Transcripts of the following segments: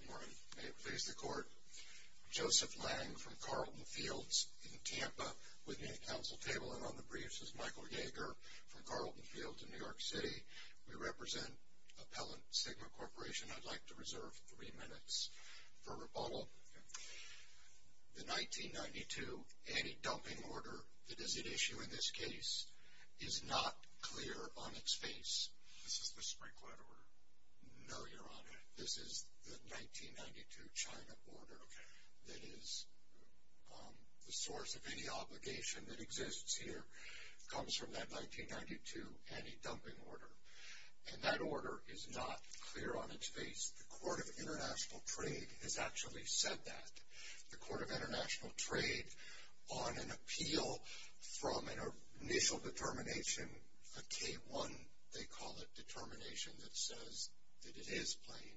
Good morning. May it please the Court. Joseph Lang from Carlton Fields in Tampa with me at the Council table and on the briefs. This is Michael Yeager from Carlton Fields in New York City. We represent Appellant Sigma Corporation. I'd like to reserve three minutes for rebuttal. The 1992 anti-dumping order that is at issue in this case is not clear on its face. This is the sprinkled order? No, Your Honor. This is the 1992 China order that is the source of any obligation that exists here. It comes from that 1992 anti-dumping order, and that order is not clear on its face. The Court of International Trade has actually said that. The Court of International Trade on an appeal from an initial determination, a K-1, they call it, determination that says that it is plain.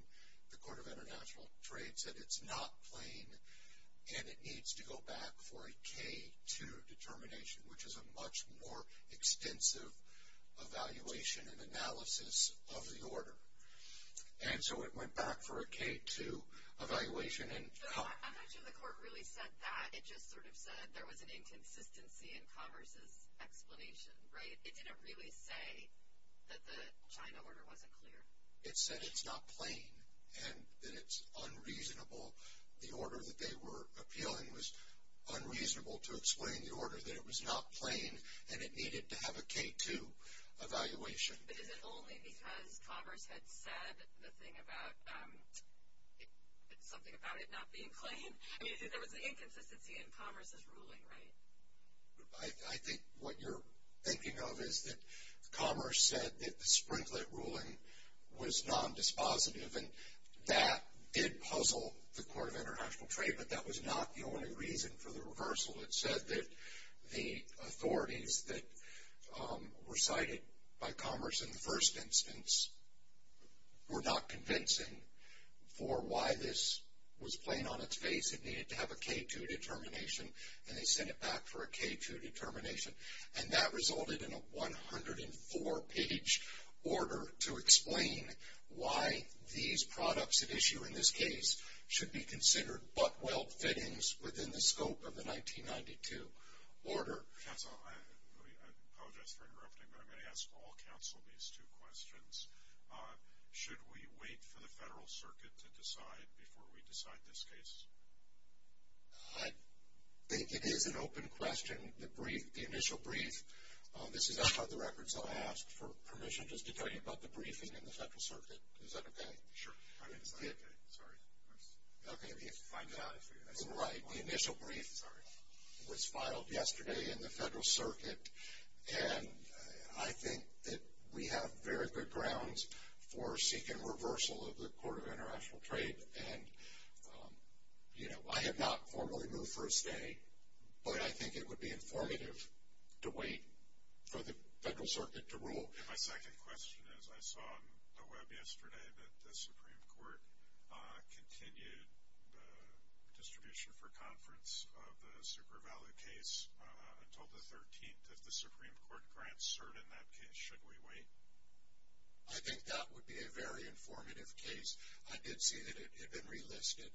The Court of International Trade said it's not plain, and it needs to go back for a K-2 determination, which is a much more extensive evaluation and analysis of the order. And so it went back for a K-2 evaluation. I'm not sure the Court really said that. It just sort of said there was an inconsistency in Congress's explanation, right? It didn't really say that the China order wasn't clear. It said it's not plain, and that it's unreasonable. The order that they were appealing was unreasonable to explain the order, that it was not plain, and it needed to have a K-2 evaluation. But is it only because Congress had said something about it not being plain? I mean, there was an inconsistency in Congress's ruling, right? I think what you're thinking of is that Commerce said that the Sprinkler ruling was nondispositive, and that did puzzle the Court of International Trade, but that was not the only reason for the reversal. It said that the authorities that were cited by Commerce in the first instance were not convincing for why this was plain on its face. It needed to have a K-2 determination, and they sent it back for a K-2 determination. And that resulted in a 104-page order to explain why these products at issue in this case should be considered butt-weld fittings within the scope of the 1992 order. Counsel, I apologize for interrupting, but I'm going to ask all counsel these two questions. Should we wait for the Federal Circuit to decide before we decide this case? I think it is an open question, the brief, the initial brief. This is out of the records, so I'll ask for permission just to tell you about the briefing in the Federal Circuit. Is that okay? Sure. Okay. The initial brief was filed yesterday in the Federal Circuit, and I think that we have very good grounds for seeking reversal of the Court of International Trade. And, you know, I have not formally moved for a stay, but I think it would be informative to wait for the Federal Circuit to rule. And my second question is I saw on the Web yesterday that the Supreme Court continued the distribution for conference of the super-value case until the 13th. If the Supreme Court grants cert in that case, should we wait? I think that would be a very informative case. I did see that it had been relisted,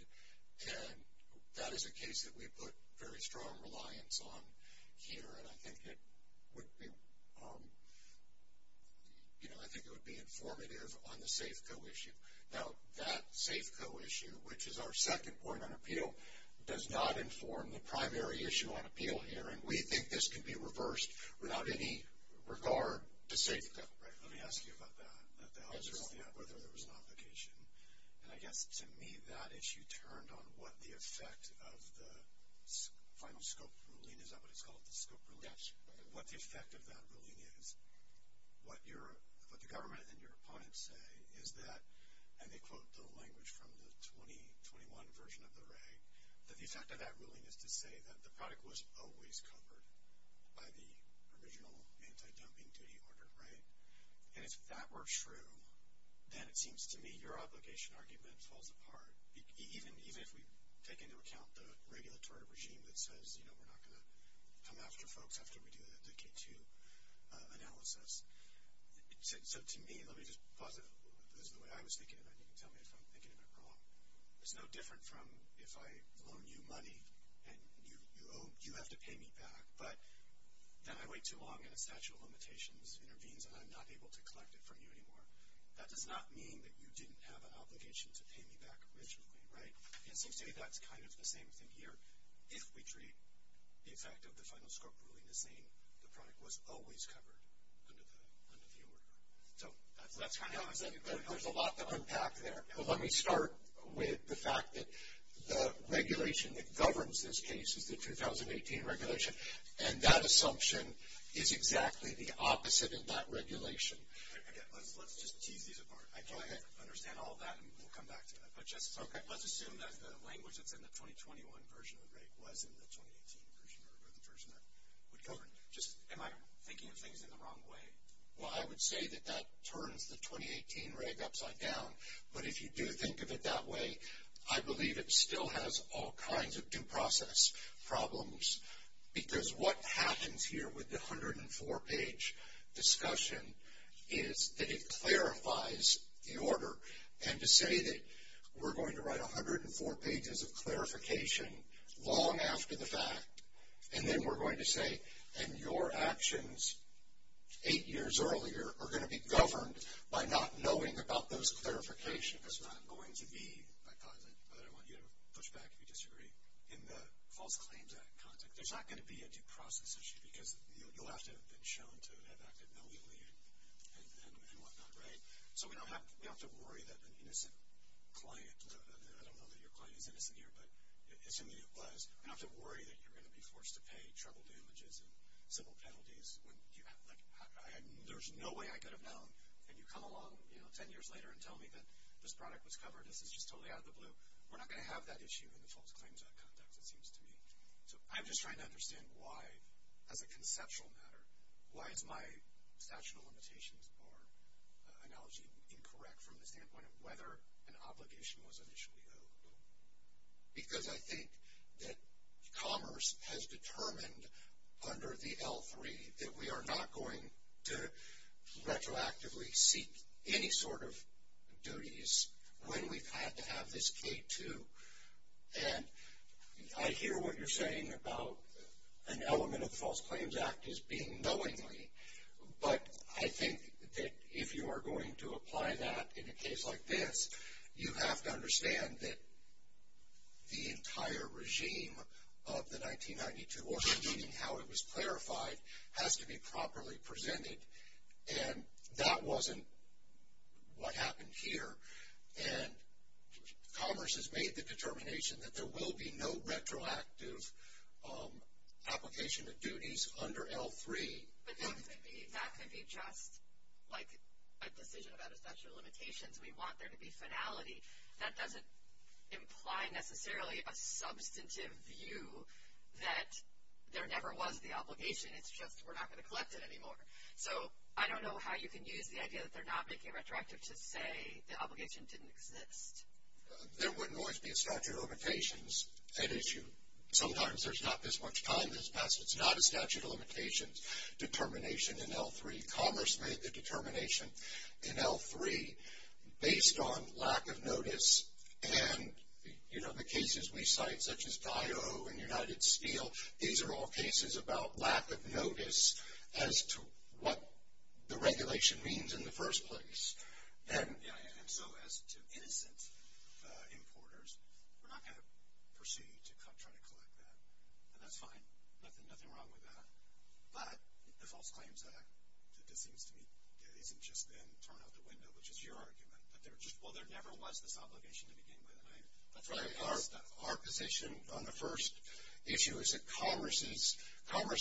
and that is a case that we put very strong reliance on here, and I think it would be informative on the SAFCO issue. Now, that SAFCO issue, which is our second point on appeal, does not inform the primary issue on appeal here, and we think this can be reversed without any regard to SAFCO. Right. Let me ask you about that, whether there was an obligation. And I guess, to me, that issue turned on what the effect of the final scope ruling. Is that what it's called, the scope ruling? Yes. What the effect of that ruling is, what the government and your opponents say is that, and they quote the language from the 2021 version of the reg, that the effect of that ruling is to say that the product was always covered by the original anti-dumping duty order, right? And if that were true, then it seems to me your obligation argument falls apart, even if we take into account the regulatory regime that says, you know, we're not going to come after folks after we do the K2 analysis. So, to me, let me just pause it a little bit. This is the way I was thinking about it. You can tell me if I'm thinking about it wrong. It's no different from if I loan you money and you have to pay me back, but then I wait too long and a statute of limitations intervenes, and I'm not able to collect it from you anymore. That does not mean that you didn't have an obligation to pay me back originally, right? It seems to me that's kind of the same thing here. If we treat the effect of the final scope ruling as saying the product was always covered under the order. So, that's kind of how I'm thinking about it. There's a lot to unpack there. Let me start with the fact that the regulation that governs this case is the 2018 regulation, and that assumption is exactly the opposite in that regulation. Let's just tease these apart. I understand all of that, and we'll come back to that. Okay. Let's assume that the language that's in the 2021 version of the reg was in the 2018 version, or the version that would govern. Just am I thinking of things in the wrong way? Well, I would say that that turns the 2018 reg upside down, but if you do think of it that way, I believe it still has all kinds of due process problems. Because what happens here with the 104-page discussion is that it clarifies the order. And to say that we're going to write 104 pages of clarification long after the fact, and then we're going to say, and your actions eight years earlier are going to be governed by not knowing about those clarifications is not going to be, I don't want you to push back if you disagree, in the false claims act context. There's not going to be a due process issue, because you'll have to have been shown to have acted knowingly and whatnot, right? So we don't have to worry that an innocent client, I don't know that your client is innocent here, but assuming it was, we don't have to worry that you're going to be forced to pay trouble damages and civil penalties. There's no way I could have known, and you come along ten years later and tell me that this product was covered, this is just totally out of the blue. We're not going to have that issue in the false claims act context, it seems to me. So I'm just trying to understand why, as a conceptual matter, why is my statute of limitations or analogy incorrect from the standpoint of whether an obligation was initially owed? Because I think that commerce has determined under the L3 that we are not going to retroactively seek any sort of duties when we've had to have this K2. And I hear what you're saying about an element of the false claims act is being knowingly, but I think that if you are going to apply that in a case like this, you have to understand that the entire regime of the 1992 order, meaning how it was clarified, has to be properly presented. And that wasn't what happened here. And commerce has made the determination that there will be no retroactive application of duties under L3. But that could be just like a decision about a statute of limitations. We want there to be finality. That doesn't imply necessarily a substantive view that there never was the obligation. It's just we're not going to collect it anymore. So I don't know how you can use the idea that they're not making a retroactive to say the obligation didn't exist. There wouldn't always be a statute of limitations at issue. Sometimes there's not this much time that has passed. It's not a statute of limitations determination in L3. Commerce made the determination in L3 based on lack of notice. And, you know, the cases we cite such as DIO and United Steel, these are all cases about lack of notice as to what the regulation means in the first place. And so as to innocent importers, we're not going to proceed to try to collect that. And that's fine. Nothing wrong with that. But the False Claims Act, it seems to me, isn't just then thrown out the window, which is your argument, that there never was this obligation to begin with. That's right. Our position on the first issue is that commerce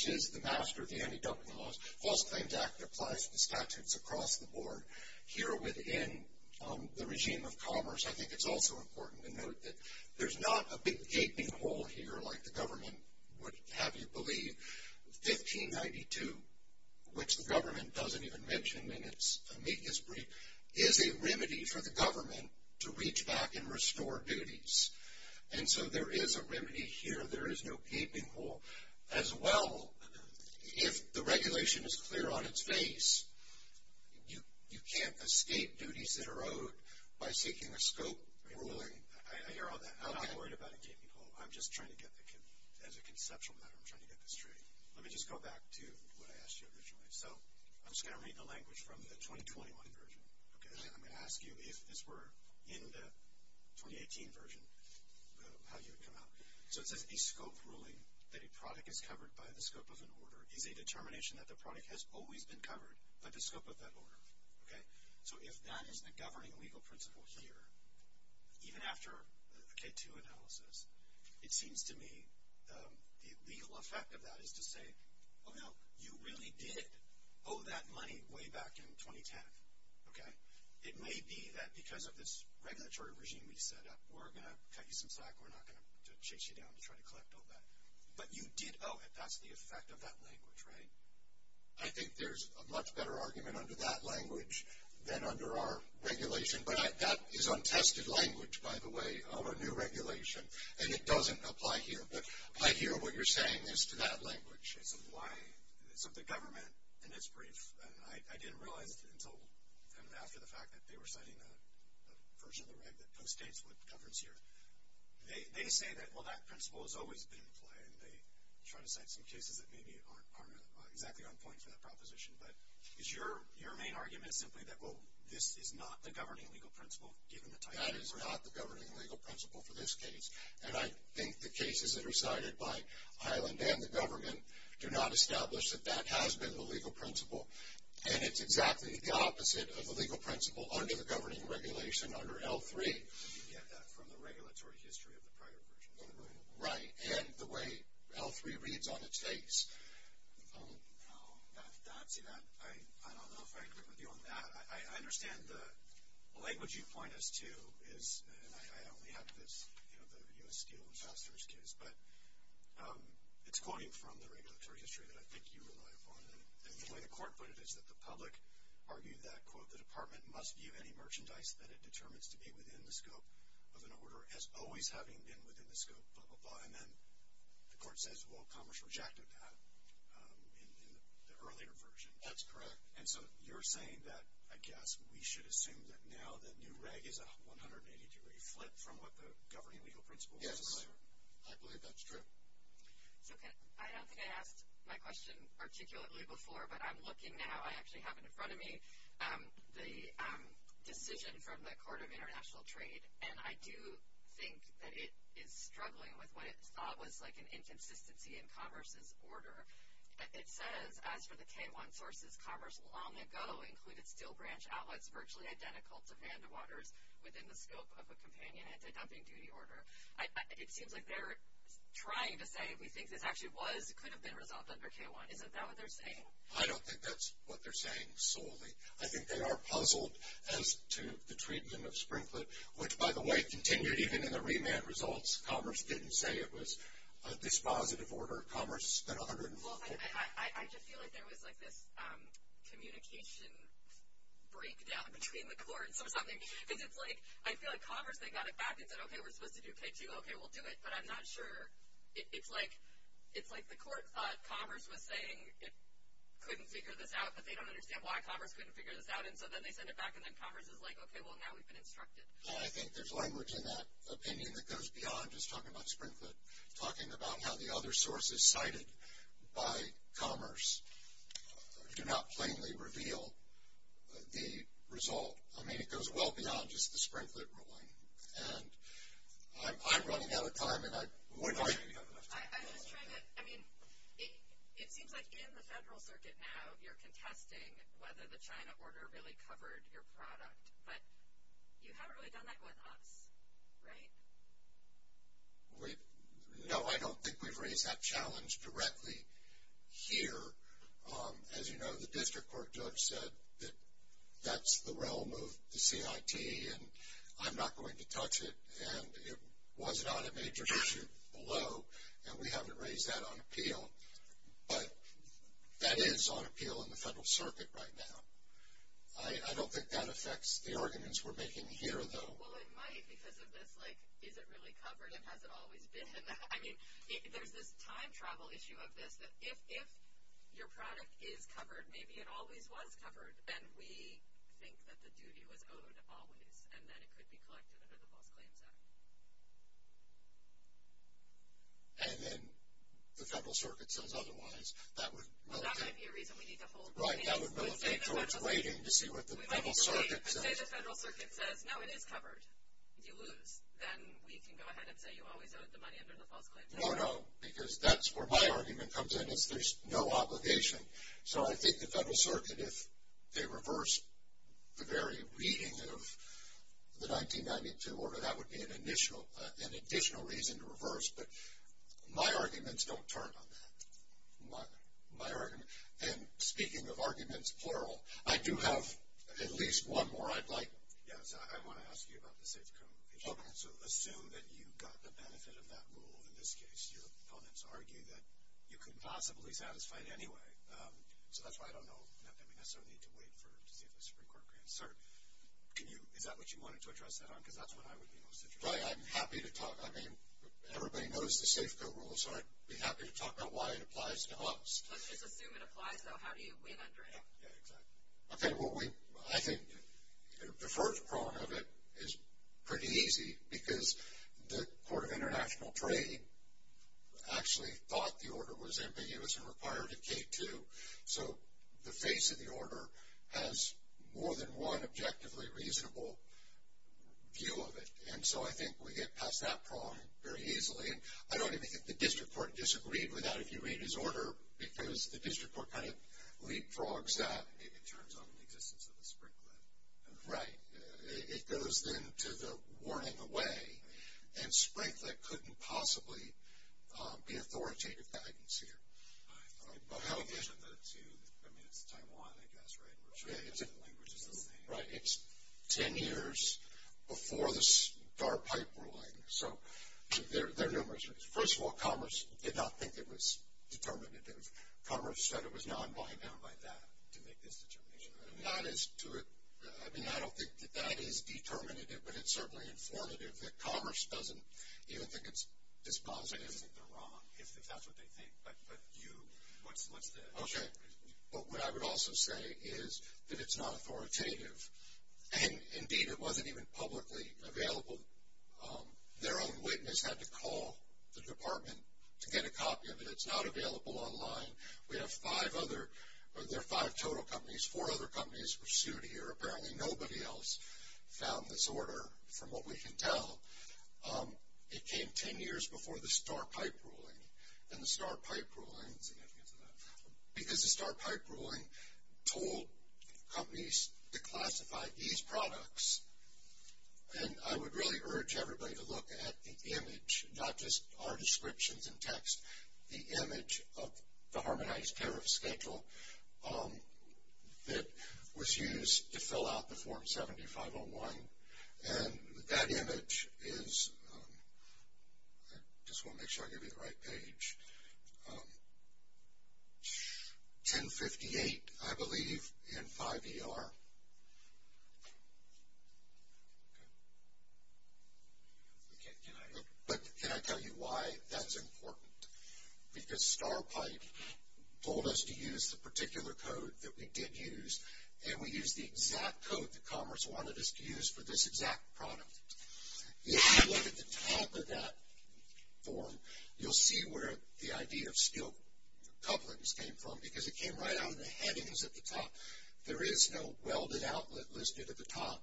is the master of the antidote to the laws. False Claims Act applies to the statutes across the board. Here within the regime of commerce, I think it's also important to note that there's not a big gaping hole here like the government would have you believe. 1592, which the government doesn't even mention in its amicus brief, is a remedy for the government to reach back and restore duties. And so there is a remedy here. There is no gaping hole. As well, if the regulation is clear on its face, you can't escape duties that are owed by seeking a scope ruling. I hear all that. I'm not worried about a gaping hole. I'm just trying to get, as a conceptual matter, I'm trying to get this straight. Let me just go back to what I asked you originally. So I'm just going to read the language from the 2021 version. I'm going to ask you if this were in the 2018 version, how you would come out. So it says a scope ruling, that a product is covered by the scope of an order, is a determination that the product has always been covered by the scope of that order. Okay? So if that is the governing legal principle here, even after a K2 analysis, it seems to me the legal effect of that is to say, oh, no, you really did owe that money way back in 2010. Okay? It may be that because of this regulatory regime we set up, we're going to cut you some slack. We're not going to chase you down to try to collect all that. But you did owe it. That's the effect of that language, right? I think there's a much better argument under that language than under our regulation. But that is untested language, by the way, of a new regulation. And it doesn't apply here. But I hear what you're saying as to that language. It's of the government and it's brief. They say that, well, that principle has always been in play. And they try to cite some cases that maybe aren't exactly on point for that proposition. But is your main argument simply that, well, this is not the governing legal principle given the time? That is not the governing legal principle for this case. And I think the cases that are cited by Highland and the government do not establish that that has been the legal principle. And it's exactly the opposite of the legal principle under the governing regulation under L-3. You get that from the regulatory history of the prior version of the rule. Right. And the way L-3 reads on its face. See, I don't know if I agree with you on that. I understand the language you point us to is, and I only have this, you know, the U.S. Steel and Fasteners case. But it's quoting from the regulatory history that I think you rely upon. And the way the court put it is that the public argued that, quote, the department must view any merchandise that it determines to be within the scope of an order as always having been within the scope, blah, blah, blah. And then the court says, well, Congress rejected that in the earlier version. That's correct. And so you're saying that, I guess, we should assume that now the new reg is a 180-degree flip from what the governing legal principle says. I believe that's true. I don't think I asked my question articulately before, but I'm looking now. I actually have it in front of me, the decision from the Court of International Trade. And I do think that it is struggling with what it thought was like an inconsistency in Congress's order. It says, as for the K-1 sources, Congress long ago included steel branch outlets virtually identical to Vandewaters within the scope of a companion anti-dumping duty order. It seems like they're trying to say, we think this actually was, could have been resolved under K-1. Isn't that what they're saying? I don't think that's what they're saying solely. I think they are puzzled as to the treatment of Sprinkler, which, by the way, continued even in the remand results. Congress didn't say it was this positive order. Well, I just feel like there was like this communication breakdown between the courts or something. Because it's like, I feel like Congress, they got it back and said, okay, we're supposed to do K-2. Okay, we'll do it. But I'm not sure. It's like the court thought Congress was saying it couldn't figure this out, but they don't understand why Congress couldn't figure this out. And so then they send it back, and then Congress is like, okay, well, now we've been instructed. And I think there's language in that opinion that goes beyond just talking about Sprinkler, talking about how the other sources cited by Commerce do not plainly reveal the result. I mean, it goes well beyond just the Sprinkler ruling. And I'm running out of time, and I'm not sure we have enough time. I'm just trying to, I mean, it seems like in the federal circuit now you're contesting whether the China order really covered your product. But you haven't really done that with us, right? No, I don't think we've raised that challenge directly here. As you know, the district court judge said that that's the realm of the CIT, and I'm not going to touch it. And it was not a major issue below, and we haven't raised that on appeal. But that is on appeal in the federal circuit right now. I don't think that affects the arguments we're making here, though. Well, it might because of this, like, is it really covered and has it always been? I mean, there's this time travel issue of this, that if your product is covered, maybe it always was covered, and we think that the duty was owed always, and then it could be collected under the False Claims Act. And then the federal circuit says otherwise. Well, that might be a reason we need to hold. Right, that would millitate towards waiting to see what the federal circuit says. Let's say the federal circuit says, no, it is covered. If you lose, then we can go ahead and say you always owed the money under the False Claims Act. No, no, because that's where my argument comes in is there's no obligation. So I think the federal circuit, if they reverse the very reading of the 1992 order, that would be an additional reason to reverse, but my arguments don't turn on that. My argument, and speaking of arguments, plural, I do have at least one more I'd like. Yes, I want to ask you about the safe code. Okay. So assume that you got the benefit of that rule in this case. Your opponents argue that you could possibly satisfy it anyway. So that's why I don't know, I mean, I sort of need to wait to see if the Supreme Court grants. Sir, is that what you wanted to address that on? Because that's what I would be most interested in. I'm happy to talk. I mean, everybody knows the safe code rule, so I'd be happy to talk about why it applies to us. Let's just assume it applies, though. How do you win under it? Yeah, exactly. Okay, well, I think the first prong of it is pretty easy because the Court of International Trade actually thought the order was ambiguous and required a K-2. So the face of the order has more than one objectively reasonable view of it. And so I think we get past that prong very easily. And I don't even think the district court disagreed with that, if you read his order, because the district court kind of leapfrogs that. It turns on the existence of a sprinkler. Right. It goes then to the warning away. And sprinkler couldn't possibly be authoritative guidance here. I have a vision of that, too. I mean, it's Taiwan, I guess, right? We're sure the language is the same. Right. It's ten years before the star pipe ruling. So there are numerous reasons. First of all, commerce did not think it was determinative. Commerce said it was not buying down by that to make this determination. I mean, I don't think that that is determinative, but it's certainly informative that commerce doesn't even think it's positive. I don't think they're wrong, if that's what they think. But you, what's the reason? Okay. But what I would also say is that it's not authoritative. And, indeed, it wasn't even publicly available. Their own witness had to call the department to get a copy of it. It's not available online. We have five other, there are five total companies, four other companies were sued here. Apparently nobody else found this order, from what we can tell. It came ten years before the star pipe ruling. And the star pipe ruling, because the star pipe ruling told companies to classify these products. And I would really urge everybody to look at the image, not just our descriptions and text. The image of the harmonized tariff schedule that was used to fill out the form 7501. And that image is, I just want to make sure I give you the right page, 1058, I believe, in 5ER. But can I tell you why that's important? Because star pipe told us to use the particular code that we did use. And we used the exact code that Commerce wanted us to use for this exact product. If you look at the top of that form, you'll see where the idea of steel couplings came from. Because it came right out of the headings at the top. There is no welded outlet listed at the top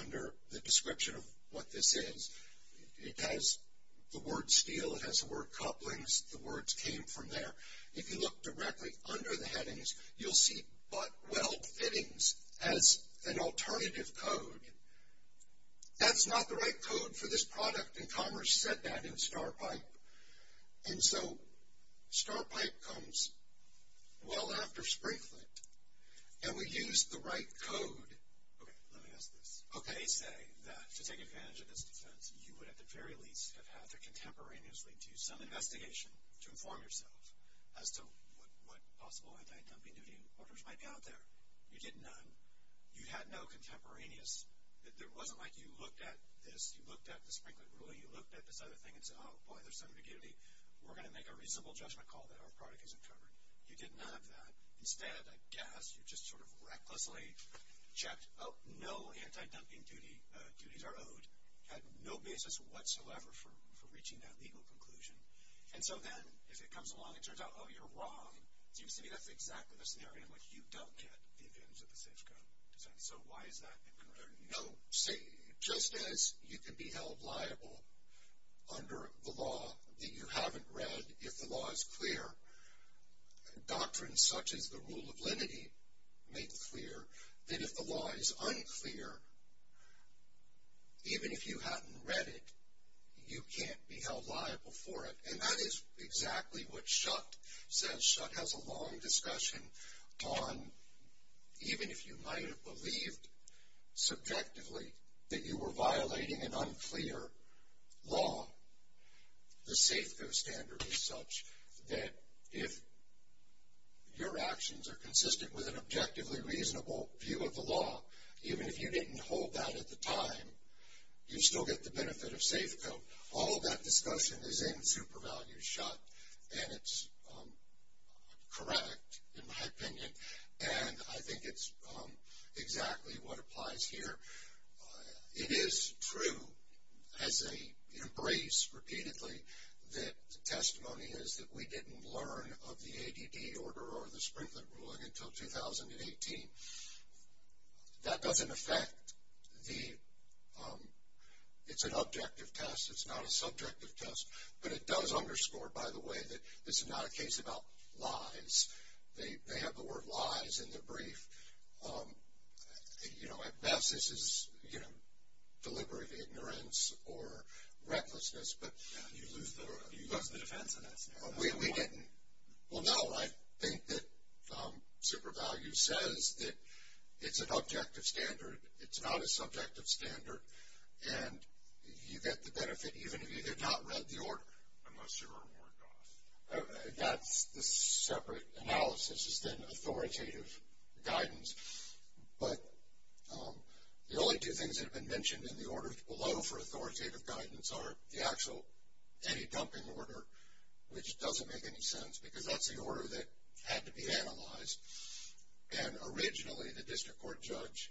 under the description of what this is. It has the word steel, it has the word couplings, the words came from there. If you look directly under the headings, you'll see butt weld fittings as an alternative code. That's not the right code for this product, and Commerce said that in star pipe. And so, star pipe comes well after sprinkler. And we used the right code. Okay, let me ask this. Okay, say that to take advantage of this defense, you would at the very least have had to contemporaneously do some investigation to inform yourselves as to what possible anti-dumping duty orders might be out there. You did none. You had no contemporaneous. There wasn't like you looked at this, you looked at the sprinkler rule, you looked at this other thing and said, oh, boy, there's some ambiguity. We're going to make a reasonable judgment call that our product isn't covered. You did none of that. Instead, I guess, you just sort of recklessly checked, oh, no anti-dumping duties are owed. You had no basis whatsoever for reaching that legal conclusion. And so then, if it comes along and it turns out, oh, you're wrong, do you see that's exactly the scenario in which you don't get the advantage of the safe code? So why is that incorrect? No, see, just as you can be held liable under the law that you haven't read if the law is clear, doctrines such as the rule of lenity make clear that if the law is unclear, even if you hadn't read it, you can't be held liable for it. And that is exactly what Schutt says. Schutt has a long discussion on even if you might have believed subjectively that you were violating an unclear law, the safe code standard is such that if your actions are consistent with an objectively reasonable view of the law, even if you didn't hold that at the time, you still get the benefit of safe code. All of that discussion is in super value, Schutt, and it's correct, in my opinion, and I think it's exactly what applies here. It is true as they embrace repeatedly that the testimony is that we didn't learn of the ADD order or the Sprinkler ruling until 2018. That doesn't affect the, it's an objective test, it's not a subjective test, but it does underscore, by the way, that this is not a case about lies. They have the word lies in the brief. You know, at best this is, you know, deliberate ignorance or recklessness, but. Yeah, you lose the defense in that scenario. We didn't. Well, no, I think that super value says that it's an objective standard. It's not a subjective standard, and you get the benefit even if you had not read the order. Unless you were warned off. That's the separate analysis. It's been authoritative guidance, but the only two things that have been mentioned in the order below for authoritative guidance are the actual any dumping order, which doesn't make any sense, because that's the order that had to be analyzed, and originally the district court judge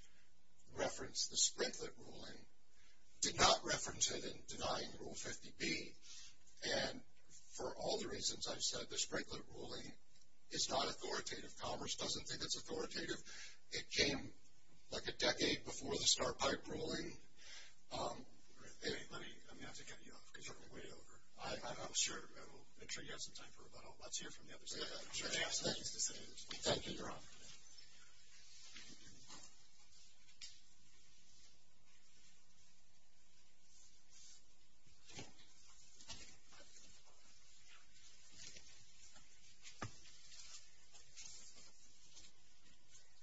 referenced the Sprinkler ruling, did not reference it in denying Rule 50B, and for all the reasons I've said, the Sprinkler ruling is not authoritative. Commerce doesn't think it's authoritative. It came like a decade before the Starpipe ruling. Let me have to cut you off, because you're way over. I'm sure you have some time for rebuttal. Let's hear from the other side. Thank you. You're welcome.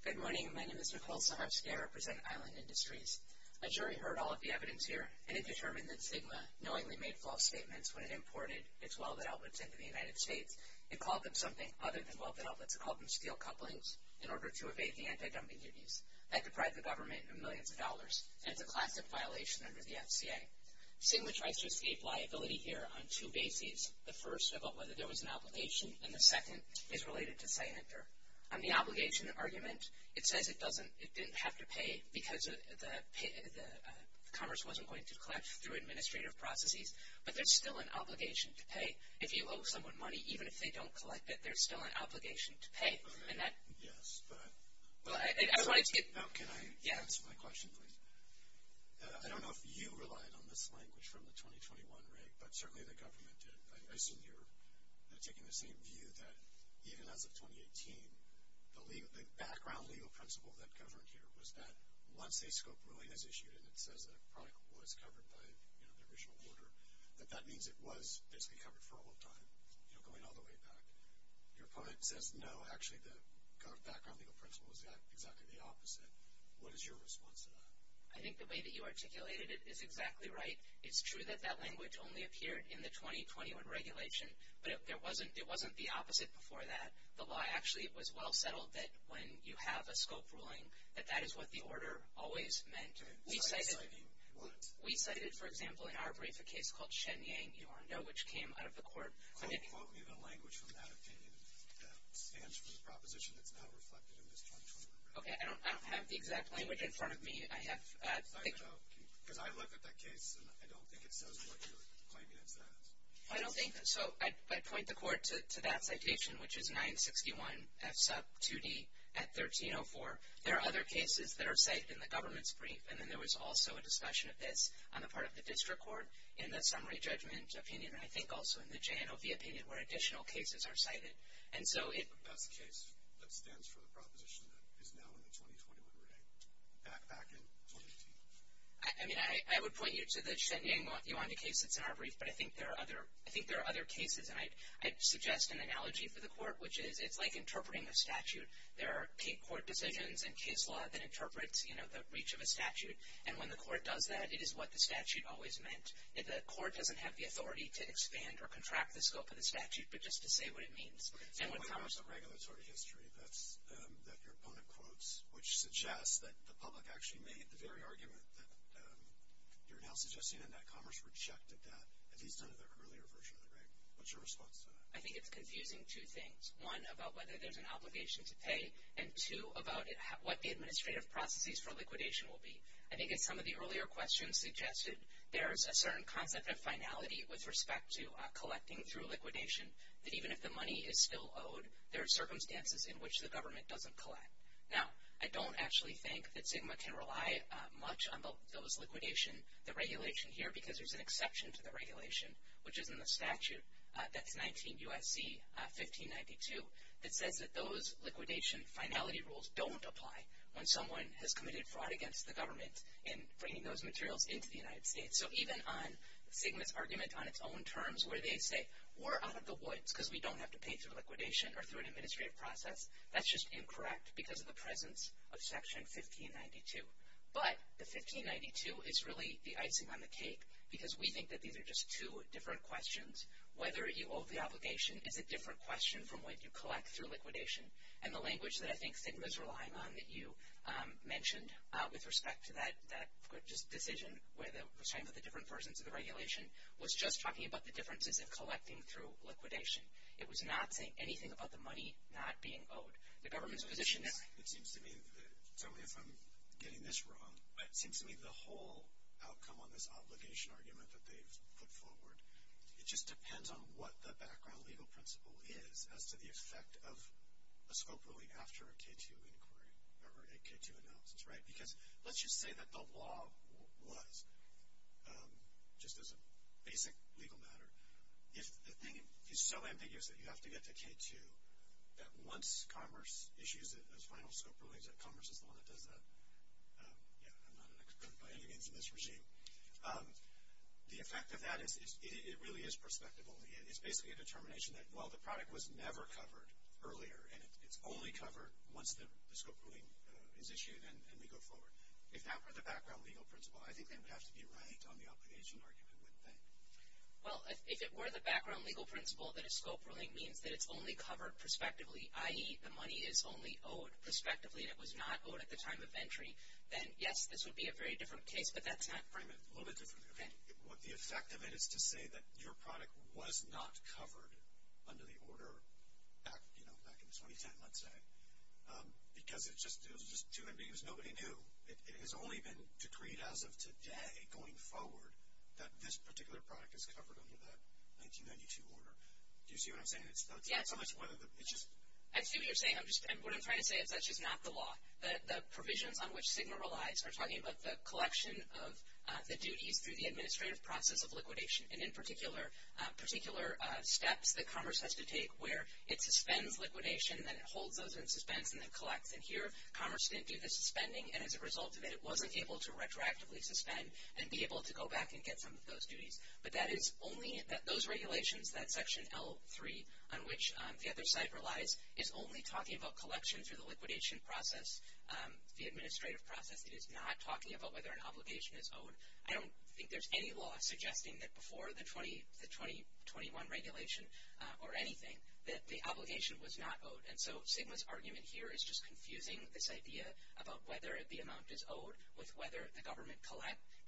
Good morning. My name is Nicole Summers, and I represent Island Industries. A jury heard all of the evidence here, and it determined that SGMA knowingly made false statements when it imported its welded outlets into the United States. It called them something other than welded outlets. It called them steel couplings in order to evade the anti-dumping duties. That deprived the government of millions of dollars, and it's a classic violation under the FCA. SGMA tries to escape liability here on two bases. The first about whether there was an obligation, and the second is related to Sanitor. On the obligation argument, it says it didn't have to pay because Commerce wasn't going to collect through administrative processes, but there's still an obligation to pay if you owe someone money, even if they don't collect it, there's still an obligation to pay. Can I answer my question, please? I don't know if you relied on this language from the 2021 rig, but certainly the government did. I assume you're taking the same view that even as of 2018, the background legal principle that governed here was that once a scope ruling is issued and it says that a product was covered by the original order, that that means it was basically covered for a long time, you know, going all the way back. Your opponent says no, actually the background legal principle was exactly the opposite. What is your response to that? I think the way that you articulated it is exactly right. It's true that that language only appeared in the 2021 regulation, but it wasn't the opposite before that. The law actually was well settled that when you have a scope ruling, that that is what the order always meant. We cited, for example, in our brief, a case called Shenyang Yorndo, which came out of the court. Quote me the language from that opinion that stands for the proposition that's now reflected in this 2021 regulation. Okay, I don't have the exact language in front of me. I don't know, because I looked at that case, and I don't think it says what you're claiming it says. I don't think so. I'd point the court to that citation, which is 961 F sub 2D at 1304. There are other cases that are cited in the government's brief, and then there was also a discussion of this on the part of the district court in the summary judgment opinion, and I think also in the JNOV opinion where additional cases are cited. That's the case that stands for the proposition that is now in the 2021 regulation, back in 2015. I mean, I would point you to the Shenyang Yorndo case that's in our brief, but I think there are other cases, and I'd suggest an analogy for the court, which is it's like interpreting a statute. There are key court decisions in case law that interprets, you know, the reach of a statute, and when the court does that, it is what the statute always meant. The court doesn't have the authority to expand or contract the scope of the statute, but just to say what it means. So when you ask the regulatory history, that's your opponent quotes, which suggests that the public actually made the very argument that you're now suggesting, and that Commerce rejected that, at least under the earlier version of the regulation. What's your response to that? I think it's confusing two things. One, about whether there's an obligation to pay, and two, about what the administrative processes for liquidation will be. I think as some of the earlier questions suggested, there's a certain concept of finality with respect to collecting through liquidation, that even if the money is still owed, there are circumstances in which the government doesn't collect. Now, I don't actually think that SGMA can rely much on those liquidation, the regulation here, because there's an exception to the regulation, which is in the statute that's 19 U.S.C. 1592, that says that those liquidation finality rules don't apply when someone has committed fraud against the government in bringing those materials into the United States. So even on SGMA's argument on its own terms, where they say, we're out of the woods because we don't have to pay through liquidation or through an administrative process, that's just incorrect because of the presence of Section 1592. But the 1592 is really the icing on the cake, because we think that these are just two different questions. Whether you owe the obligation is a different question from what you collect through liquidation. And the language that I think SGMA's relying on that you mentioned with respect to that decision, where it was time for the different versions of the regulation, was just talking about the differences in collecting through liquidation. It was not saying anything about the money not being owed. It seems to me, tell me if I'm getting this wrong, but it seems to me the whole outcome on this obligation argument that they've put forward, it just depends on what the background legal principle is as to the effect of a scope ruling after a K2 inquiry or a K2 analysis, right? Because let's just say that the law was, just as a basic legal matter, if the thing is so ambiguous that you have to get to K2, that once Commerce issues those final scope rulings, and Commerce is the one that does that, yeah, I'm not an expert by any means in this regime, the effect of that, it really is prospectible. It's basically a determination that, well, the product was never covered earlier, and it's only covered once the scope ruling is issued and we go forward. If that were the background legal principle, I think they would have to be right on the obligation argument, wouldn't they? Well, if it were the background legal principle that a scope ruling means that it's only covered prospectively, i.e., the money is only owed prospectively and it was not owed at the time of entry, then yes, this would be a very different case, but that's not prime. A little bit different. Okay. The effect of it is to say that your product was not covered under the order back in 2010, let's say, because it was just too ambiguous, nobody knew. So it has only been decreed as of today, going forward, that this particular product is covered under that 1992 order. Do you see what I'm saying? Yes. It's just. I see what you're saying. What I'm trying to say is that's just not the law. The provisions on which SGMA relies are talking about the collection of the duties through the administrative process of liquidation, and in particular, particular steps that Commerce has to take where it suspends liquidation, then it holds those and suspends and then collects. And here Commerce didn't do the suspending, and as a result of it, it wasn't able to retroactively suspend and be able to go back and get some of those duties. But that is only those regulations, that section L3 on which the other side relies, is only talking about collection through the liquidation process, the administrative process. It is not talking about whether an obligation is owed. I don't think there's any law suggesting that before the 2021 regulation or anything, that the obligation was not owed. And so SGMA's argument here is just confusing this idea about whether the amount is owed with whether the government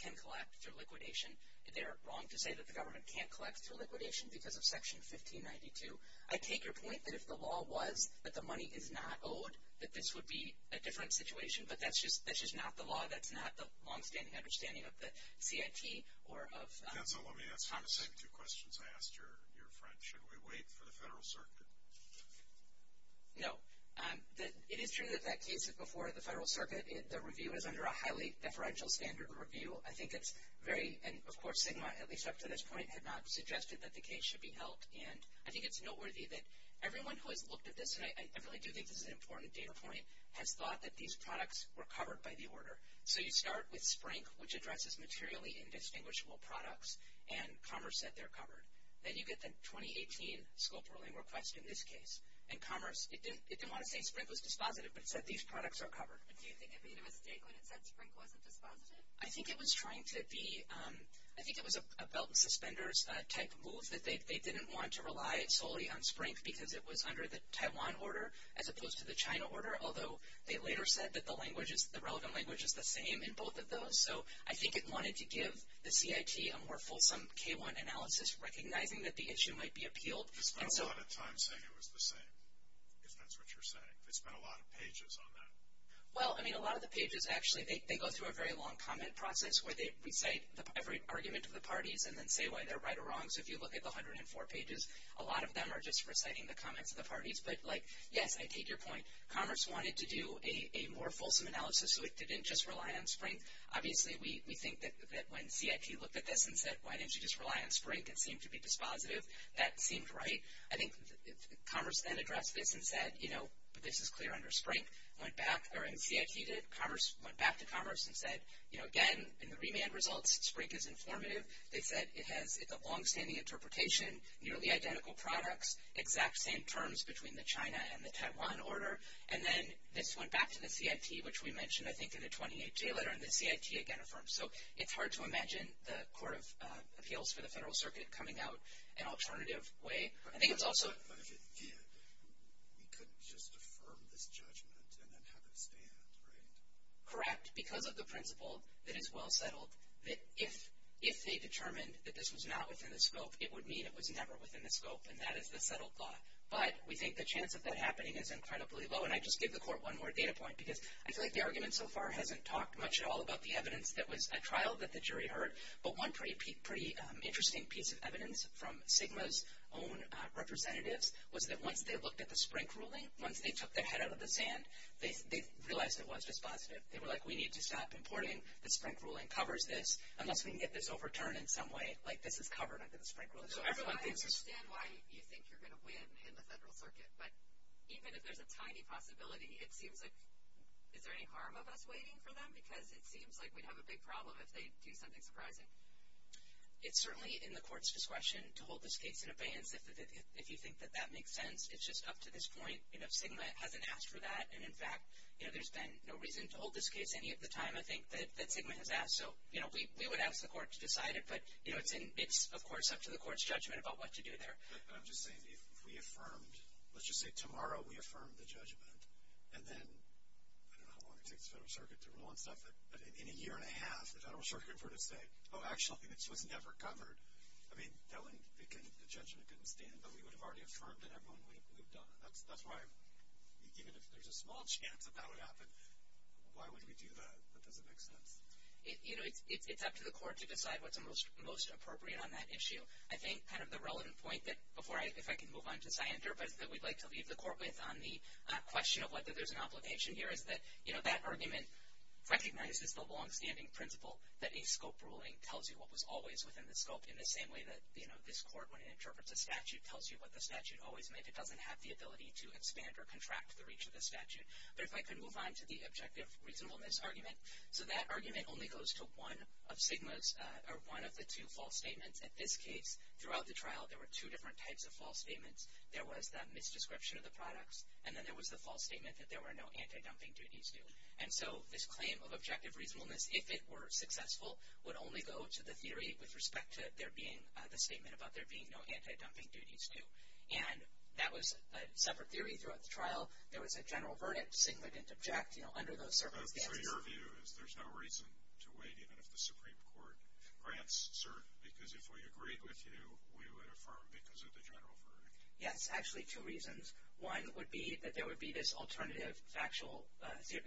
can collect through liquidation. They're wrong to say that the government can't collect through liquidation because of Section 1592. I take your point that if the law was that the money is not owed, that this would be a different situation, but that's just not the law. That's not the longstanding understanding of the CIT or of... No, it is true that that case before the Federal Circuit, the review was under a highly deferential standard review. I think it's very, and of course SGMA, at least up to this point, had not suggested that the case should be held. And I think it's noteworthy that everyone who has looked at this, and I really do think this is an important data point, has thought that these products were covered by the order. So you start with SPRINC, which addresses materially indistinguishable products, and Commerce said they're covered. Then you get the 2018 scope ruling request in this case. And Commerce, it didn't want to say SPRINC was dispositive, but it said these products are covered. But do you think it made a mistake when it said SPRINC wasn't dispositive? I think it was trying to be... I think it was a belt and suspenders type move that they didn't want to rely solely on SPRINC because it was under the Taiwan order, as opposed to the China order, although they later said that the relevant language is the same in both of those. So I think it wanted to give the CIT a more fulsome K1 analysis, recognizing that the issue might be appealed. It's been a lot of time saying it was the same, if that's what you're saying. It's been a lot of pages on that. Well, I mean, a lot of the pages actually, they go through a very long comment process where they recite every argument of the parties and then say why they're right or wrong. So if you look at the 104 pages, a lot of them are just reciting the comments of the parties. But, like, yes, I take your point. Commerce wanted to do a more fulsome analysis so it didn't just rely on SPRINC. Obviously, we think that when CIT looked at this and said, why didn't you just rely on SPRINC, it seemed to be dispositive. That seemed right. I think Commerce then addressed this and said, you know, this is clear under SPRINC. And CIT went back to Commerce and said, you know, again, in the remand results, SPRINC is informative. They said it has a longstanding interpretation, nearly identical products, exact same terms between the China and the Taiwan order. And then this went back to the CIT, which we mentioned, I think, in the 28-J letter, and the CIT again affirmed. So it's hard to imagine the Court of Appeals for the Federal Circuit coming out an alternative way. I think it's also. But if it did, we couldn't just affirm this judgment and then have it stand, right? Correct, because of the principle that is well settled, that if they determined that this was not within the scope, it would mean it was never within the scope, and that is the settled law. But we think the chance of that happening is incredibly low. And I just give the Court one more data point because I feel like the argument so far hasn't talked much at all about the evidence that was a trial that the jury heard. But one pretty interesting piece of evidence from SGMA's own representatives was that once they looked at the SPRINC ruling, once they took their head out of the sand, they realized it was dispositive. They were like, we need to stop importing the SPRINC ruling covers this, unless we can get this overturned in some way, like this is covered under the SPRINC ruling. So I understand why you think you're going to win in the Federal Circuit. But even if there's a tiny possibility, it seems like, is there any harm of us waiting for them? Because it seems like we'd have a big problem if they do something surprising. It's certainly in the Court's discretion to hold this case in abeyance, if you think that that makes sense. It's just up to this point, SGMA hasn't asked for that. And, in fact, there's been no reason to hold this case any of the time, I think, that SGMA has asked. So we would ask the Court to decide it. But, you know, it's, of course, up to the Court's judgment about what to do there. But I'm just saying, if we affirmed, let's just say tomorrow we affirmed the judgment, and then I don't know how long it takes the Federal Circuit to rule and stuff, but in a year and a half the Federal Circuit were to say, oh, actually, this was never covered. I mean, the judgment couldn't stand, but we would have already affirmed that everyone would have done it. That's why, even if there's a small chance that that would happen, why would we do that? That doesn't make sense. You know, it's up to the Court to decide what's most appropriate on that issue. I think kind of the relevant point that, before I, if I can move on, because I interpreted it that we'd like to leave the Court with on the question of whether there's an obligation here, is that, you know, that argument recognizes the longstanding principle that a scope ruling tells you what was always within the scope, in the same way that, you know, this Court, when it interprets a statute, tells you what the statute always meant. It doesn't have the ability to expand or contract the reach of the statute. But if I could move on to the objective reasonableness argument. So that argument only goes to one of Sigma's, or one of the two false statements. In this case, throughout the trial, there were two different types of false statements. There was the misdescription of the products, and then there was the false statement that there were no anti-dumping duties due. And so this claim of objective reasonableness, if it were successful, would only go to the theory with respect to there being the statement about there being no anti-dumping duties due. And that was a separate theory throughout the trial. There was a general verdict. Sigma didn't object, you know, under those circumstances. So your view is there's no reason to wait even if the Supreme Court grants cert, because if we agreed with you, we would affirm because of the general verdict. Yes, actually two reasons. One would be that there would be this alternative factual,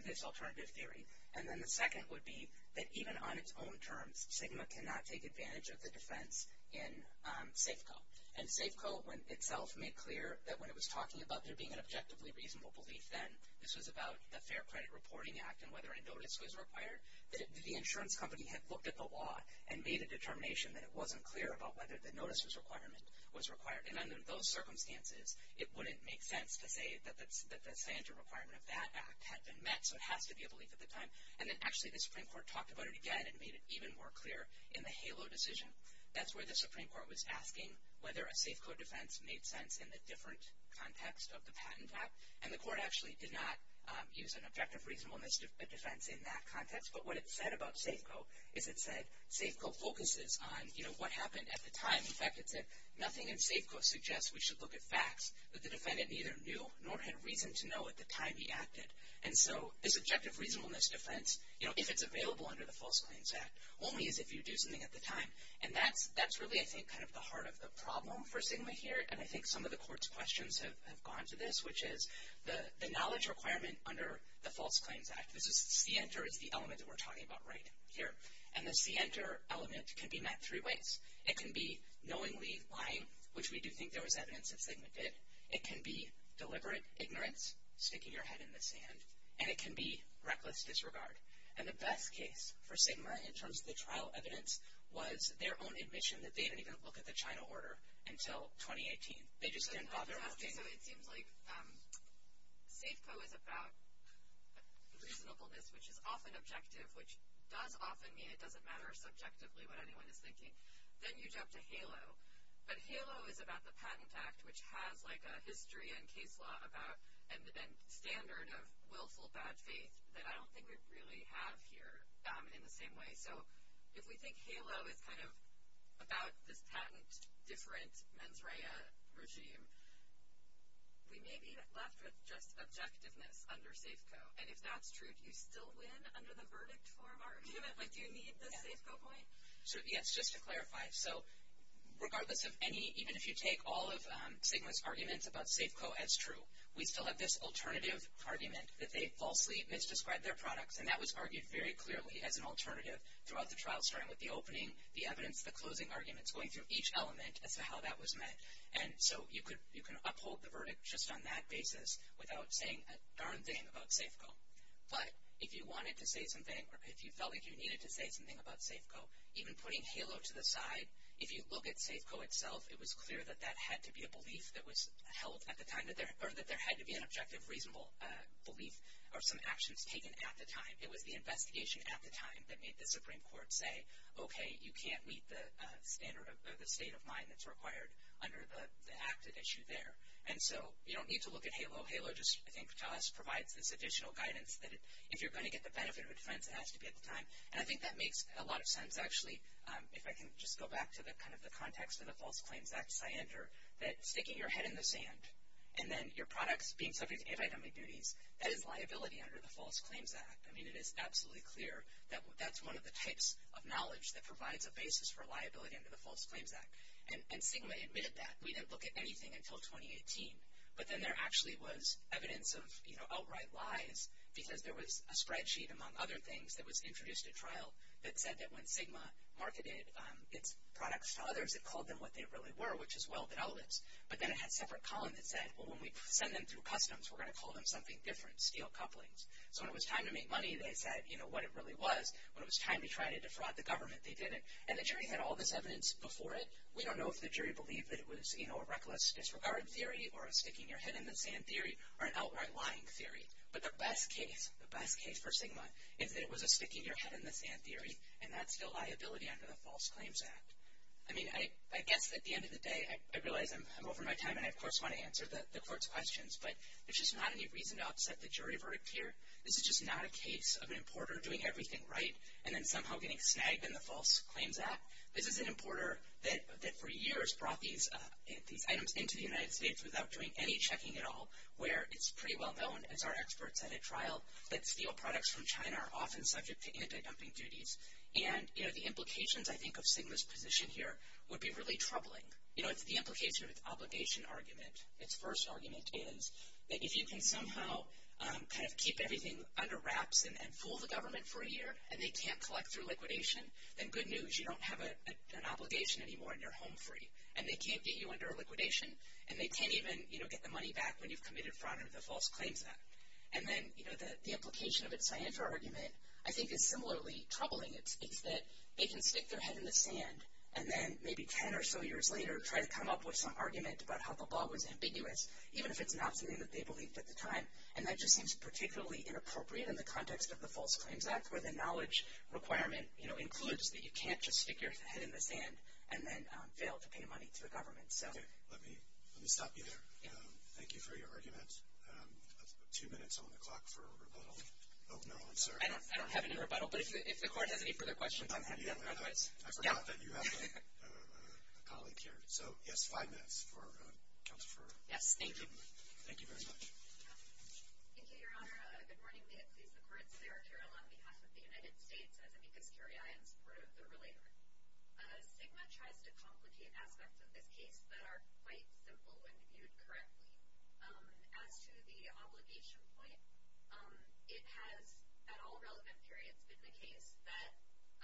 this alternative theory. And then the second would be that even on its own terms, Sigma cannot take advantage of the defense in Safeco. And Safeco itself made clear that when it was talking about there being an objectively reasonable belief then, this was about the Fair Credit Reporting Act and whether a notice was required, that the insurance company had looked at the law and made a determination that it wasn't clear about whether the notice requirement was required. And under those circumstances, it wouldn't make sense to say that the scienter requirement of that act had been met. So it has to be a belief at the time. And then actually the Supreme Court talked about it again and made it even more clear in the HALO decision. That's where the Supreme Court was asking whether a Safeco defense made sense in the different context of the patent act. And the court actually did not use an objective reasonableness defense in that context. But what it said about Safeco is it said, Safeco focuses on, you know, what happened at the time. In fact, it said, nothing in Safeco suggests we should look at facts that the defendant neither knew nor had reason to know at the time he acted. And so this objective reasonableness defense, you know, if it's available under the False Claims Act, only is if you do something at the time. And that's really, I think, kind of the heart of the problem for Sigma here. And I think some of the court's questions have gone to this, which is the knowledge requirement under the False Claims Act. This is scienter is the element that we're talking about right here. And the scienter element can be met three ways. It can be knowingly lying, which we do think there was evidence that Sigma did. It can be deliberate ignorance, sticking your head in the sand. And it can be reckless disregard. And the best case for Sigma in terms of the trial evidence was their own admission that they didn't even look at the China order until 2018. They just didn't bother looking. So it seems like Safeco is about reasonableness, which is often objective, which does often mean it doesn't matter subjectively what anyone is thinking. Then you jump to HALO. But HALO is about the Patent Act, which has a history and case law and standard of willful bad faith that I don't think we really have here in the same way. So if we think HALO is kind of about this patent different mens rea regime, we may be left with just objectiveness under Safeco. And if that's true, do you still win under the verdict form argument? Do you need the Safeco point? So, yes, just to clarify, so regardless of any, even if you take all of Sigma's arguments about Safeco as true, we still have this alternative argument that they falsely misdescribed their products. And that was argued very clearly as an alternative throughout the trial, starting with the opening, the evidence, the closing arguments, going through each element as to how that was met. And so you can uphold the verdict just on that basis without saying a darn thing about Safeco. But if you wanted to say something or if you felt like you needed to say something about Safeco, even putting HALO to the side, if you look at Safeco itself, it was clear that that had to be a belief that was held at the time, or that there had to be an objective, reasonable belief or some actions taken at the time. It was the investigation at the time that made the Supreme Court say, okay, you can't meet the standard of the state of mind that's required under the act at issue there. And so you don't need to look at HALO. HALO just, I think, provides this additional guidance that if you're going to get the benefit of a defense, it has to be at the time. And I think that makes a lot of sense, actually. If I can just go back to kind of the context of the False Claims Act, that sticking your head in the sand and then your products being subject to invite-only duties, that is liability under the False Claims Act. I mean, it is absolutely clear that that's one of the types of knowledge that provides a basis for liability under the False Claims Act. And Sigma admitted that. We didn't look at anything until 2018. But then there actually was evidence of, you know, outright lies because there was a spreadsheet, among other things, that was introduced at trial that said that when Sigma marketed its products to others, it called them what they really were, which is welded outlets. But then it had separate columns that said, well, when we send them through customs, we're going to call them something different, steel couplings. So when it was time to make money, they said, you know, what it really was. When it was time to try to defraud the government, they didn't. And the jury had all this evidence before it. We don't know if the jury believed that it was, you know, a reckless disregard theory or a sticking-your-head-in-the-sand theory or an outright lying theory. But the best case, the best case for Sigma is that it was a sticking-your-head-in-the-sand theory, and that's still liability under the False Claims Act. I mean, I guess at the end of the day, I realize I'm over my time, and I, of course, want to answer the court's questions. But there's just not any reason to upset the jury verdict here. This is just not a case of an importer doing everything right and then somehow getting snagged in the False Claims Act. This is an importer that for years brought these items into the United States without doing any checking at all, where it's pretty well known, as our experts at a trial, that steel products from China are often subject to anti-dumping duties. And, you know, the implications, I think, of Sigma's position here would be really troubling. You know, it's the implication of its obligation argument. Its first argument is that if you can somehow kind of keep everything under wraps and fool the government for a year, and they can't collect through liquidation, then good news, you don't have an obligation anymore, and you're home free. And they can't get you under liquidation, and they can't even, you know, get the money back when you've committed fraud under the False Claims Act. And then, you know, the implication of its scienter argument, I think, is similarly troubling. It's that they can stick their head in the sand and then maybe ten or so years later try to come up with some argument about how the law was ambiguous, even if it's not something that they believed at the time. And that just seems particularly inappropriate in the context of the False Claims Act, where the knowledge requirement, you know, includes that you can't just stick your head in the sand and then fail to pay money to the government. Let me stop you there. Thank you for your argument. Two minutes on the clock for a rebuttal. Oh, no, I'm sorry. I don't have any rebuttal, but if the court has any further questions, I'm happy to have them. I forgot that you have a colleague here. So, yes, five minutes for counsel. Yes, thank you. Thank you very much. Thank you, Your Honor. Good morning. We at CISA Court, Sarah Carroll on behalf of the United States, as amicus curiae and supportive of the relator. SGMA tries to complicate aspects of this case that are quite simple when viewed correctly. As to the obligation point, it has, at all relevant periods, been the case that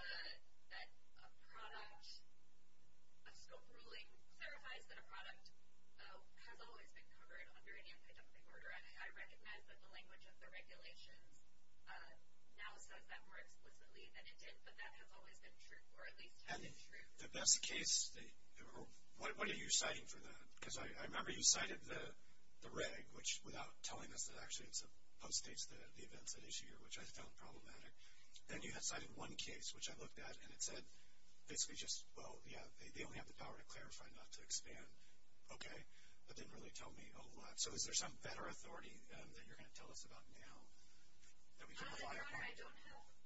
a product, a scope ruling clarifies that a product has always been covered under an antidumping order. And I recognize that the language of the regulations now says that more explicitly than it did, but that has always been true, or at least has been true. And the best case, what are you citing for that? Because I remember you cited the reg, which without telling us that actually it post-states the events of this year, which I found problematic. Then you had cited one case, which I looked at, and it said basically just, well, yeah, they only have the power to clarify not to expand, okay, but didn't really tell me a lot. So is there some better authority that you're going to tell us about now? I don't have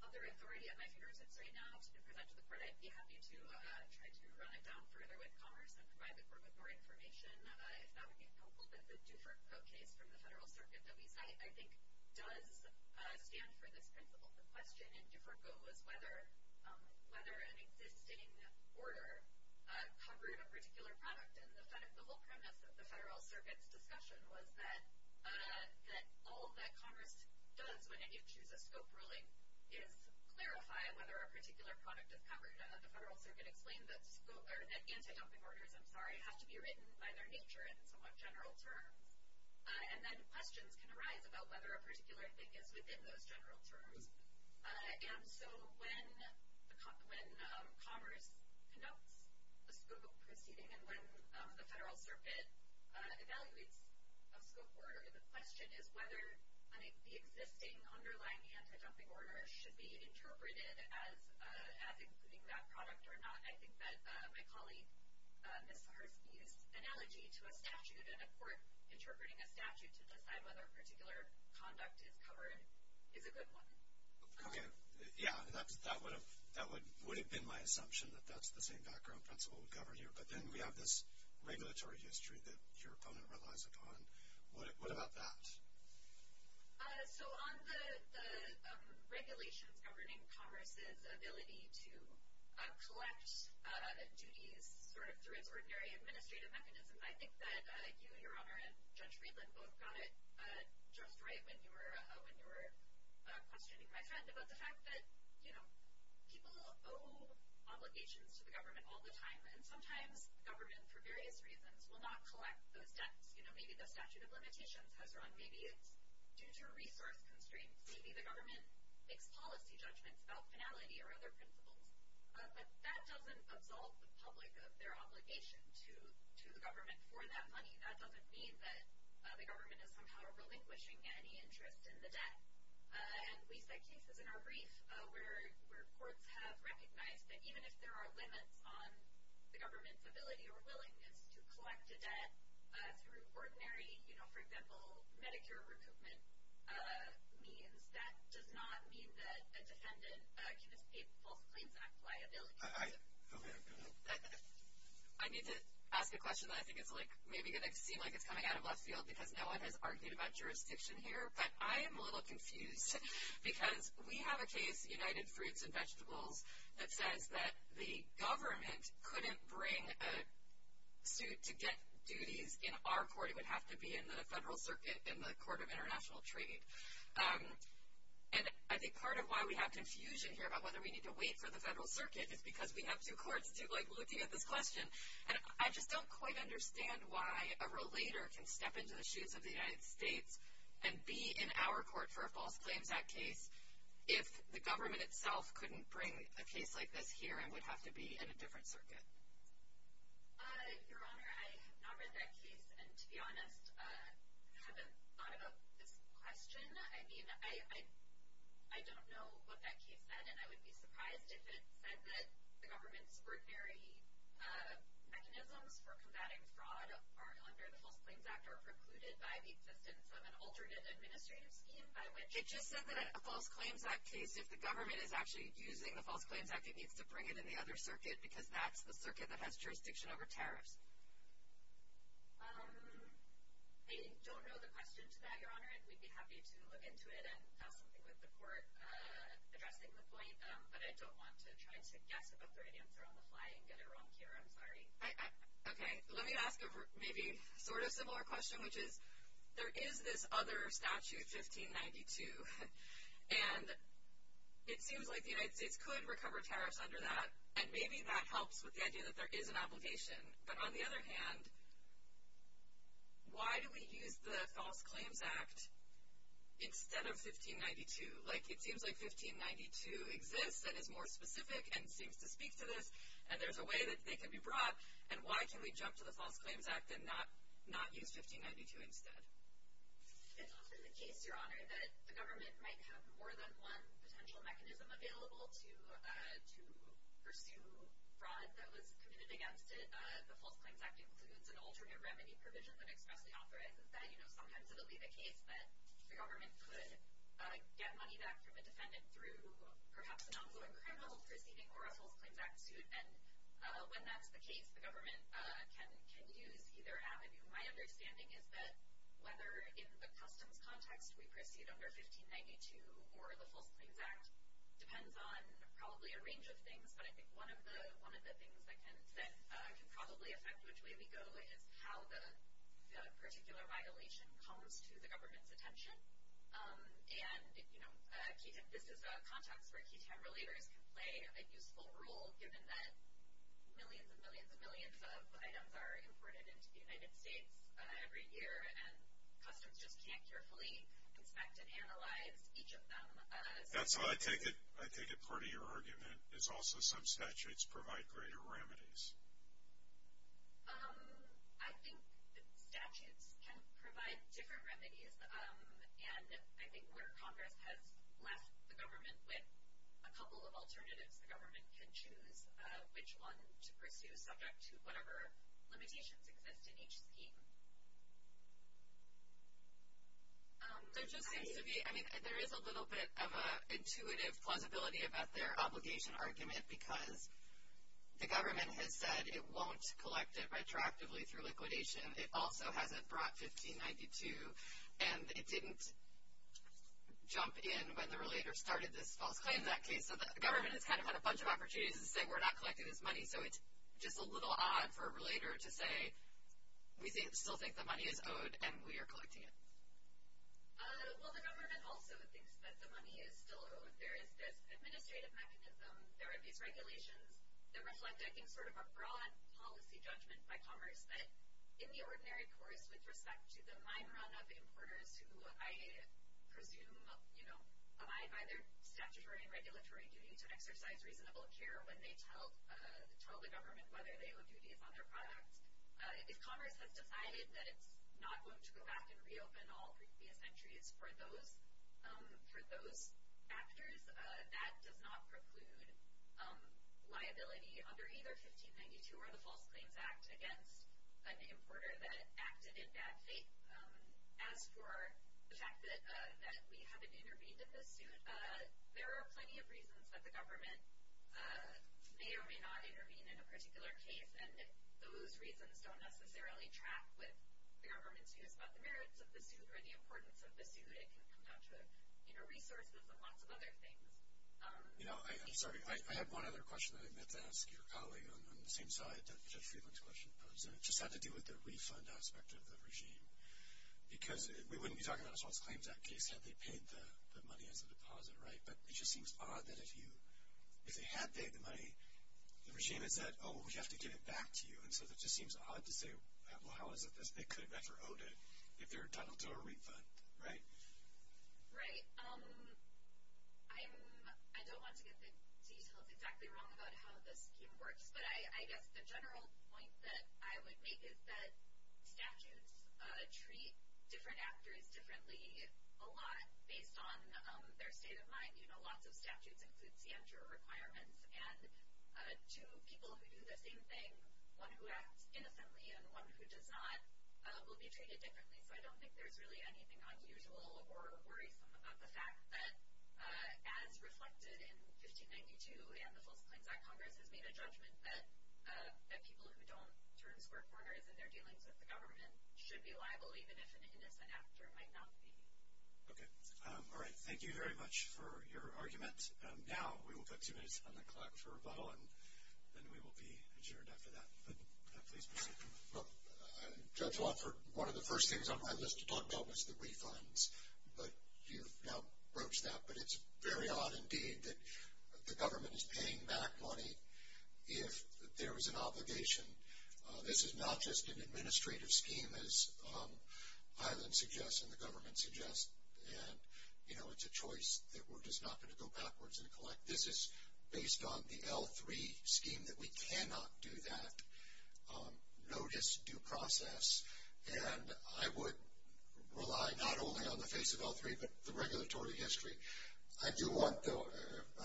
other authority at my fingertips right now to present to the Court. I'd be happy to try to run it down further with Commerce and provide the Court with more information, if that would be helpful. But the Dufour-Go case from the Federal Circuit that we cite, I think, does stand for this principle. The question in Dufour-Go was whether an existing order covered a particular product. And the whole premise of the Federal Circuit's discussion was that all that Commerce does when it issues a scope ruling is clarify whether a particular product is covered. The Federal Circuit explained that anti-dumping orders, I'm sorry, have to be written by their nature in somewhat general terms. And then questions can arise about whether a particular thing is within those general terms. And so when Commerce conducts a scope proceeding and when the Federal Circuit evaluates a scope order, the question is whether the existing underlying anti-dumping order should be interpreted as including that product or not. And I think that my colleague, Ms. Fahersky's, analogy to a statute and a court interpreting a statute to decide whether a particular conduct is covered is a good one. Okay. Yeah, that would have been my assumption, that that's the same background principle we cover here. But then we have this regulatory history that your opponent relies upon. What about that? So on the regulations governing Commerce's ability to collect duties sort of through its ordinary administrative mechanism, I think that you, Your Honor, and Judge Friedland both got it just right when you were questioning my friend about the fact that, you know, people owe obligations to the government all the time. And sometimes the government, for various reasons, will not collect those debts. You know, maybe the statute of limitations has run. Maybe it's due to resource constraints. Maybe the government makes policy judgments about finality or other principles. But that doesn't absolve the public of their obligation to the government for that money. That doesn't mean that the government is somehow relinquishing any interest in the debt. And we cite cases in our brief where courts have recognized that even if there are limits on the government's ability or willingness to collect a debt through ordinary, you know, for example, Medicare recoupment means, that does not mean that a defendant can escape false claims liability. I need to ask a question that I think is, like, maybe going to seem like it's coming out of left field because no one has argued about jurisdiction here. But I am a little confused because we have a case, United Fruits and Vegetables, that says that the government couldn't bring a suit to get duties in our court. It would have to be in the Federal Circuit in the Court of International Trade. And I think part of why we have confusion here about whether we need to wait for the Federal Circuit is because we have two courts looking at this question. And I just don't quite understand why a relator can step into the shoes of the United States and be in our court for a False Claims Act case if the government itself couldn't bring a case like this here and would have to be in a different circuit. Your Honor, I have not read that case. And to be honest, I haven't thought about this question. I mean, I don't know what that case said. And I would be surprised if it said that the government's ordinary mechanisms for combating fraud under the False Claims Act are precluded by the existence of an alternate administrative scheme by which It just said that in a False Claims Act case, if the government is actually using the False Claims Act, it needs to bring it in the other circuit because that's the circuit that has jurisdiction over tariffs. I don't know the question to that, Your Honor. And we'd be happy to look into it and have something with the court addressing the point. But I don't want to try to guess about the right answer on the fly and get it wrong here. I'm sorry. Okay. Let me ask a maybe sort of similar question, which is there is this other statute, 1592. And it seems like the United States could recover tariffs under that. And maybe that helps with the idea that there is an obligation. But on the other hand, why do we use the False Claims Act instead of 1592? Like, it seems like 1592 exists and is more specific and seems to speak to this. And there's a way that they can be brought. And why can we jump to the False Claims Act and not use 1592 instead? It's often the case, Your Honor, that the government might have more than one potential mechanism available to pursue fraud that was committed against it. The False Claims Act includes an alternate remedy provision that expressly authorizes that. Sometimes it will be the case that the government could get money back from a defendant through perhaps an ongoing criminal proceeding or a False Claims Act suit. And when that's the case, the government can use either avenue. My understanding is that whether in the customs context we proceed under 1592 or the False Claims Act depends on probably a range of things. But I think one of the things that can probably affect which way we go is how the particular violation comes to the government's attention. And, you know, this is a context where key time relievers can play a useful role, given that millions and millions and millions of items are imported into the United States every year, and customs just can't carefully inspect and analyze each of them. That's why I take it part of your argument is also some statutes provide greater remedies. I think that statutes can provide different remedies. And I think where Congress has left the government with a couple of alternatives, the government can choose which one to pursue subject to whatever limitations exist in each scheme. There just seems to be, I mean, there is a little bit of an intuitive plausibility about their obligation argument, because the government has said it won't collect it retroactively through liquidation. It also hasn't brought 1592. And it didn't jump in when the relator started this False Claims Act case. So the government has kind of had a bunch of opportunities to say we're not collecting this money. So it's just a little odd for a relator to say we still think the money is owed and we are collecting it. Well, the government also thinks that the money is still owed. There is this administrative mechanism, there are these regulations that reflect, I think, sort of a broad policy judgment by commerce that, in the ordinary course, with respect to the mine run of importers who, I presume, you know, abide by their statutory and regulatory duty to exercise reasonable care when they tell the government whether they owe duties on their products, if commerce has decided that it's not going to go back and reopen all previous entries for those factors, that does not preclude liability under either 1592 or the False Claims Act against an importer that acted in bad faith. As for the fact that we haven't intervened in this suit, there are plenty of reasons that the government may or may not intervene in a particular case, and those reasons don't necessarily track with the government's views about the merits of the suit or the importance of the suit. But it can come down to a resource and lots of other things. You know, I'm sorry, I have one other question that I meant to ask your colleague on the same side that Judge Friedland's question posed, and it just had to do with the refund aspect of the regime. Because we wouldn't be talking about a False Claims Act case had they paid the money as a deposit, right? But it just seems odd that if they had paid the money, the regime had said, oh, we have to give it back to you. And so it just seems odd to say, well, how is it that they could have ever owed it if they were entitled to a refund, right? Right. I don't want to get the details exactly wrong about how this scheme works, but I guess the general point that I would make is that statutes treat different actors differently a lot based on their state of mind. You know, lots of statutes include scientia requirements, and two people who do the same thing, one who acts innocently and one who does not, will be treated differently. So I don't think there's really anything unusual or worrisome about the fact that, as reflected in 1592 and the False Claims Act, Congress has made a judgment that people who don't turn square corners in their dealings with the government should be liable even if an innocent actor might not be. Okay. All right. Thank you very much for your argument. Now we will put two minutes on the clock for rebuttal, and then we will be adjourned after that. But please proceed. Look, Judge Wofford, one of the first things on my list to talk about was the refunds. But you've now broached that. But it's very odd indeed that the government is paying back money if there was an obligation. This is not just an administrative scheme, as Eiland suggests and the government suggests. And, you know, it's a choice that we're just not going to go backwards and collect. This is based on the L3 scheme, that we cannot do that notice due process. And I would rely not only on the face of L3, but the regulatory history. I do want to,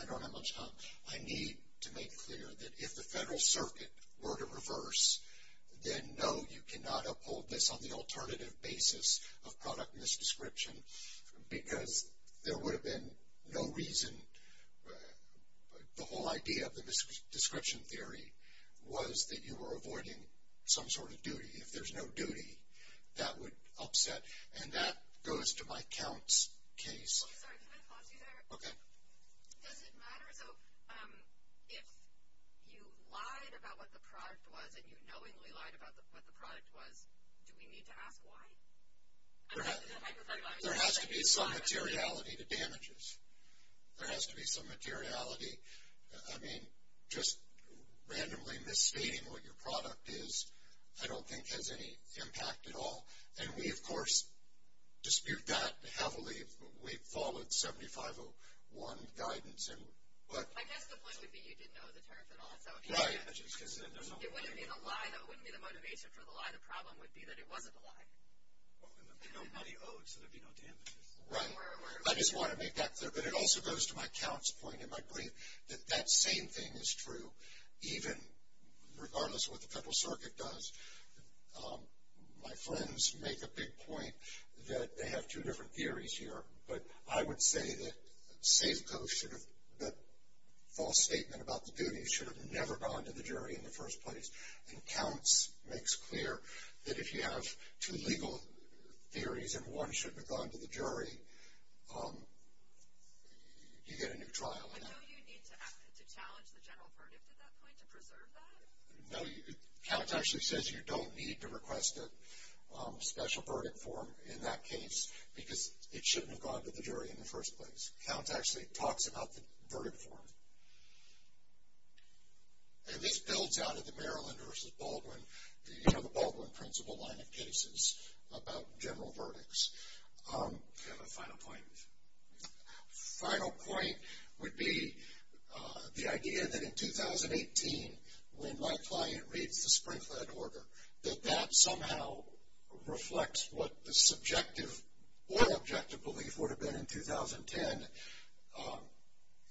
I don't have much time. I need to make clear that if the federal circuit were to reverse, then no, you cannot uphold this on the alternative basis of product misdescription. Because there would have been no reason, the whole idea of the misdescription theory was that you were avoiding some sort of duty. If there's no duty, that would upset. And that goes to my counts case. I'm sorry, can I pause you there? Okay. Does it matter, so if you lied about what the product was and you knowingly lied about what the product was, do we need to ask why? There has to be some materiality to damages. There has to be some materiality. I mean, just randomly misstating what your product is, I don't think has any impact at all. And we, of course, dispute that heavily. We've followed 7501 guidance. I guess the point would be you didn't know the terms at all. Right. It wouldn't be the lie, that wouldn't be the motivation for the lie. The problem would be that it wasn't a lie. There would be no money owed, so there would be no damages. Right. I just want to make that clear. But it also goes to my counts point and my belief that that same thing is true, even regardless of what the federal circuit does. My friends make a big point that they have two different theories here. But I would say that Safeco should have, that false statement about the duty should have never gone to the jury in the first place. And counts makes clear that if you have two legal theories and one shouldn't have gone to the jury, you get a new trial. I know you need to challenge the general verdict at that point to preserve that. Counts actually says you don't need to request a special verdict form in that case because it shouldn't have gone to the jury in the first place. Counts actually talks about the verdict form. And this builds out of the Maryland versus Baldwin, the Baldwin principle line of cases about general verdicts. I have a final point. Final point would be the idea that in 2018, when my client reads the Sprinkled order, that that somehow reflects what the subjective or objective belief would have been in 2010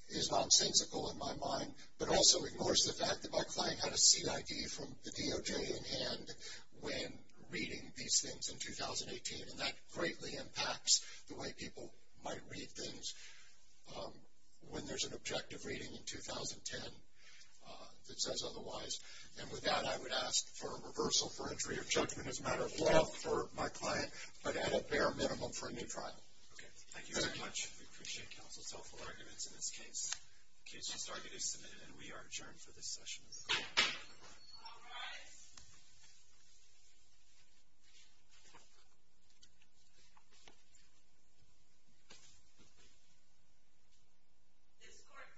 is nonsensical in my mind, but also ignores the fact that my client had a CID from the DOJ in hand when reading these things in 2018. And that greatly impacts the way people might read things when there's an objective reading in 2010 that says otherwise. And with that, I would ask for a reversal for entry of judgment as a matter of law for my client, but at a bare minimum for a new trial. Okay. Thank you very much. We appreciate counsel's helpful arguments in this case. The case is started as submitted, and we are adjourned for this session. All rise. This court for this session stands adjourned.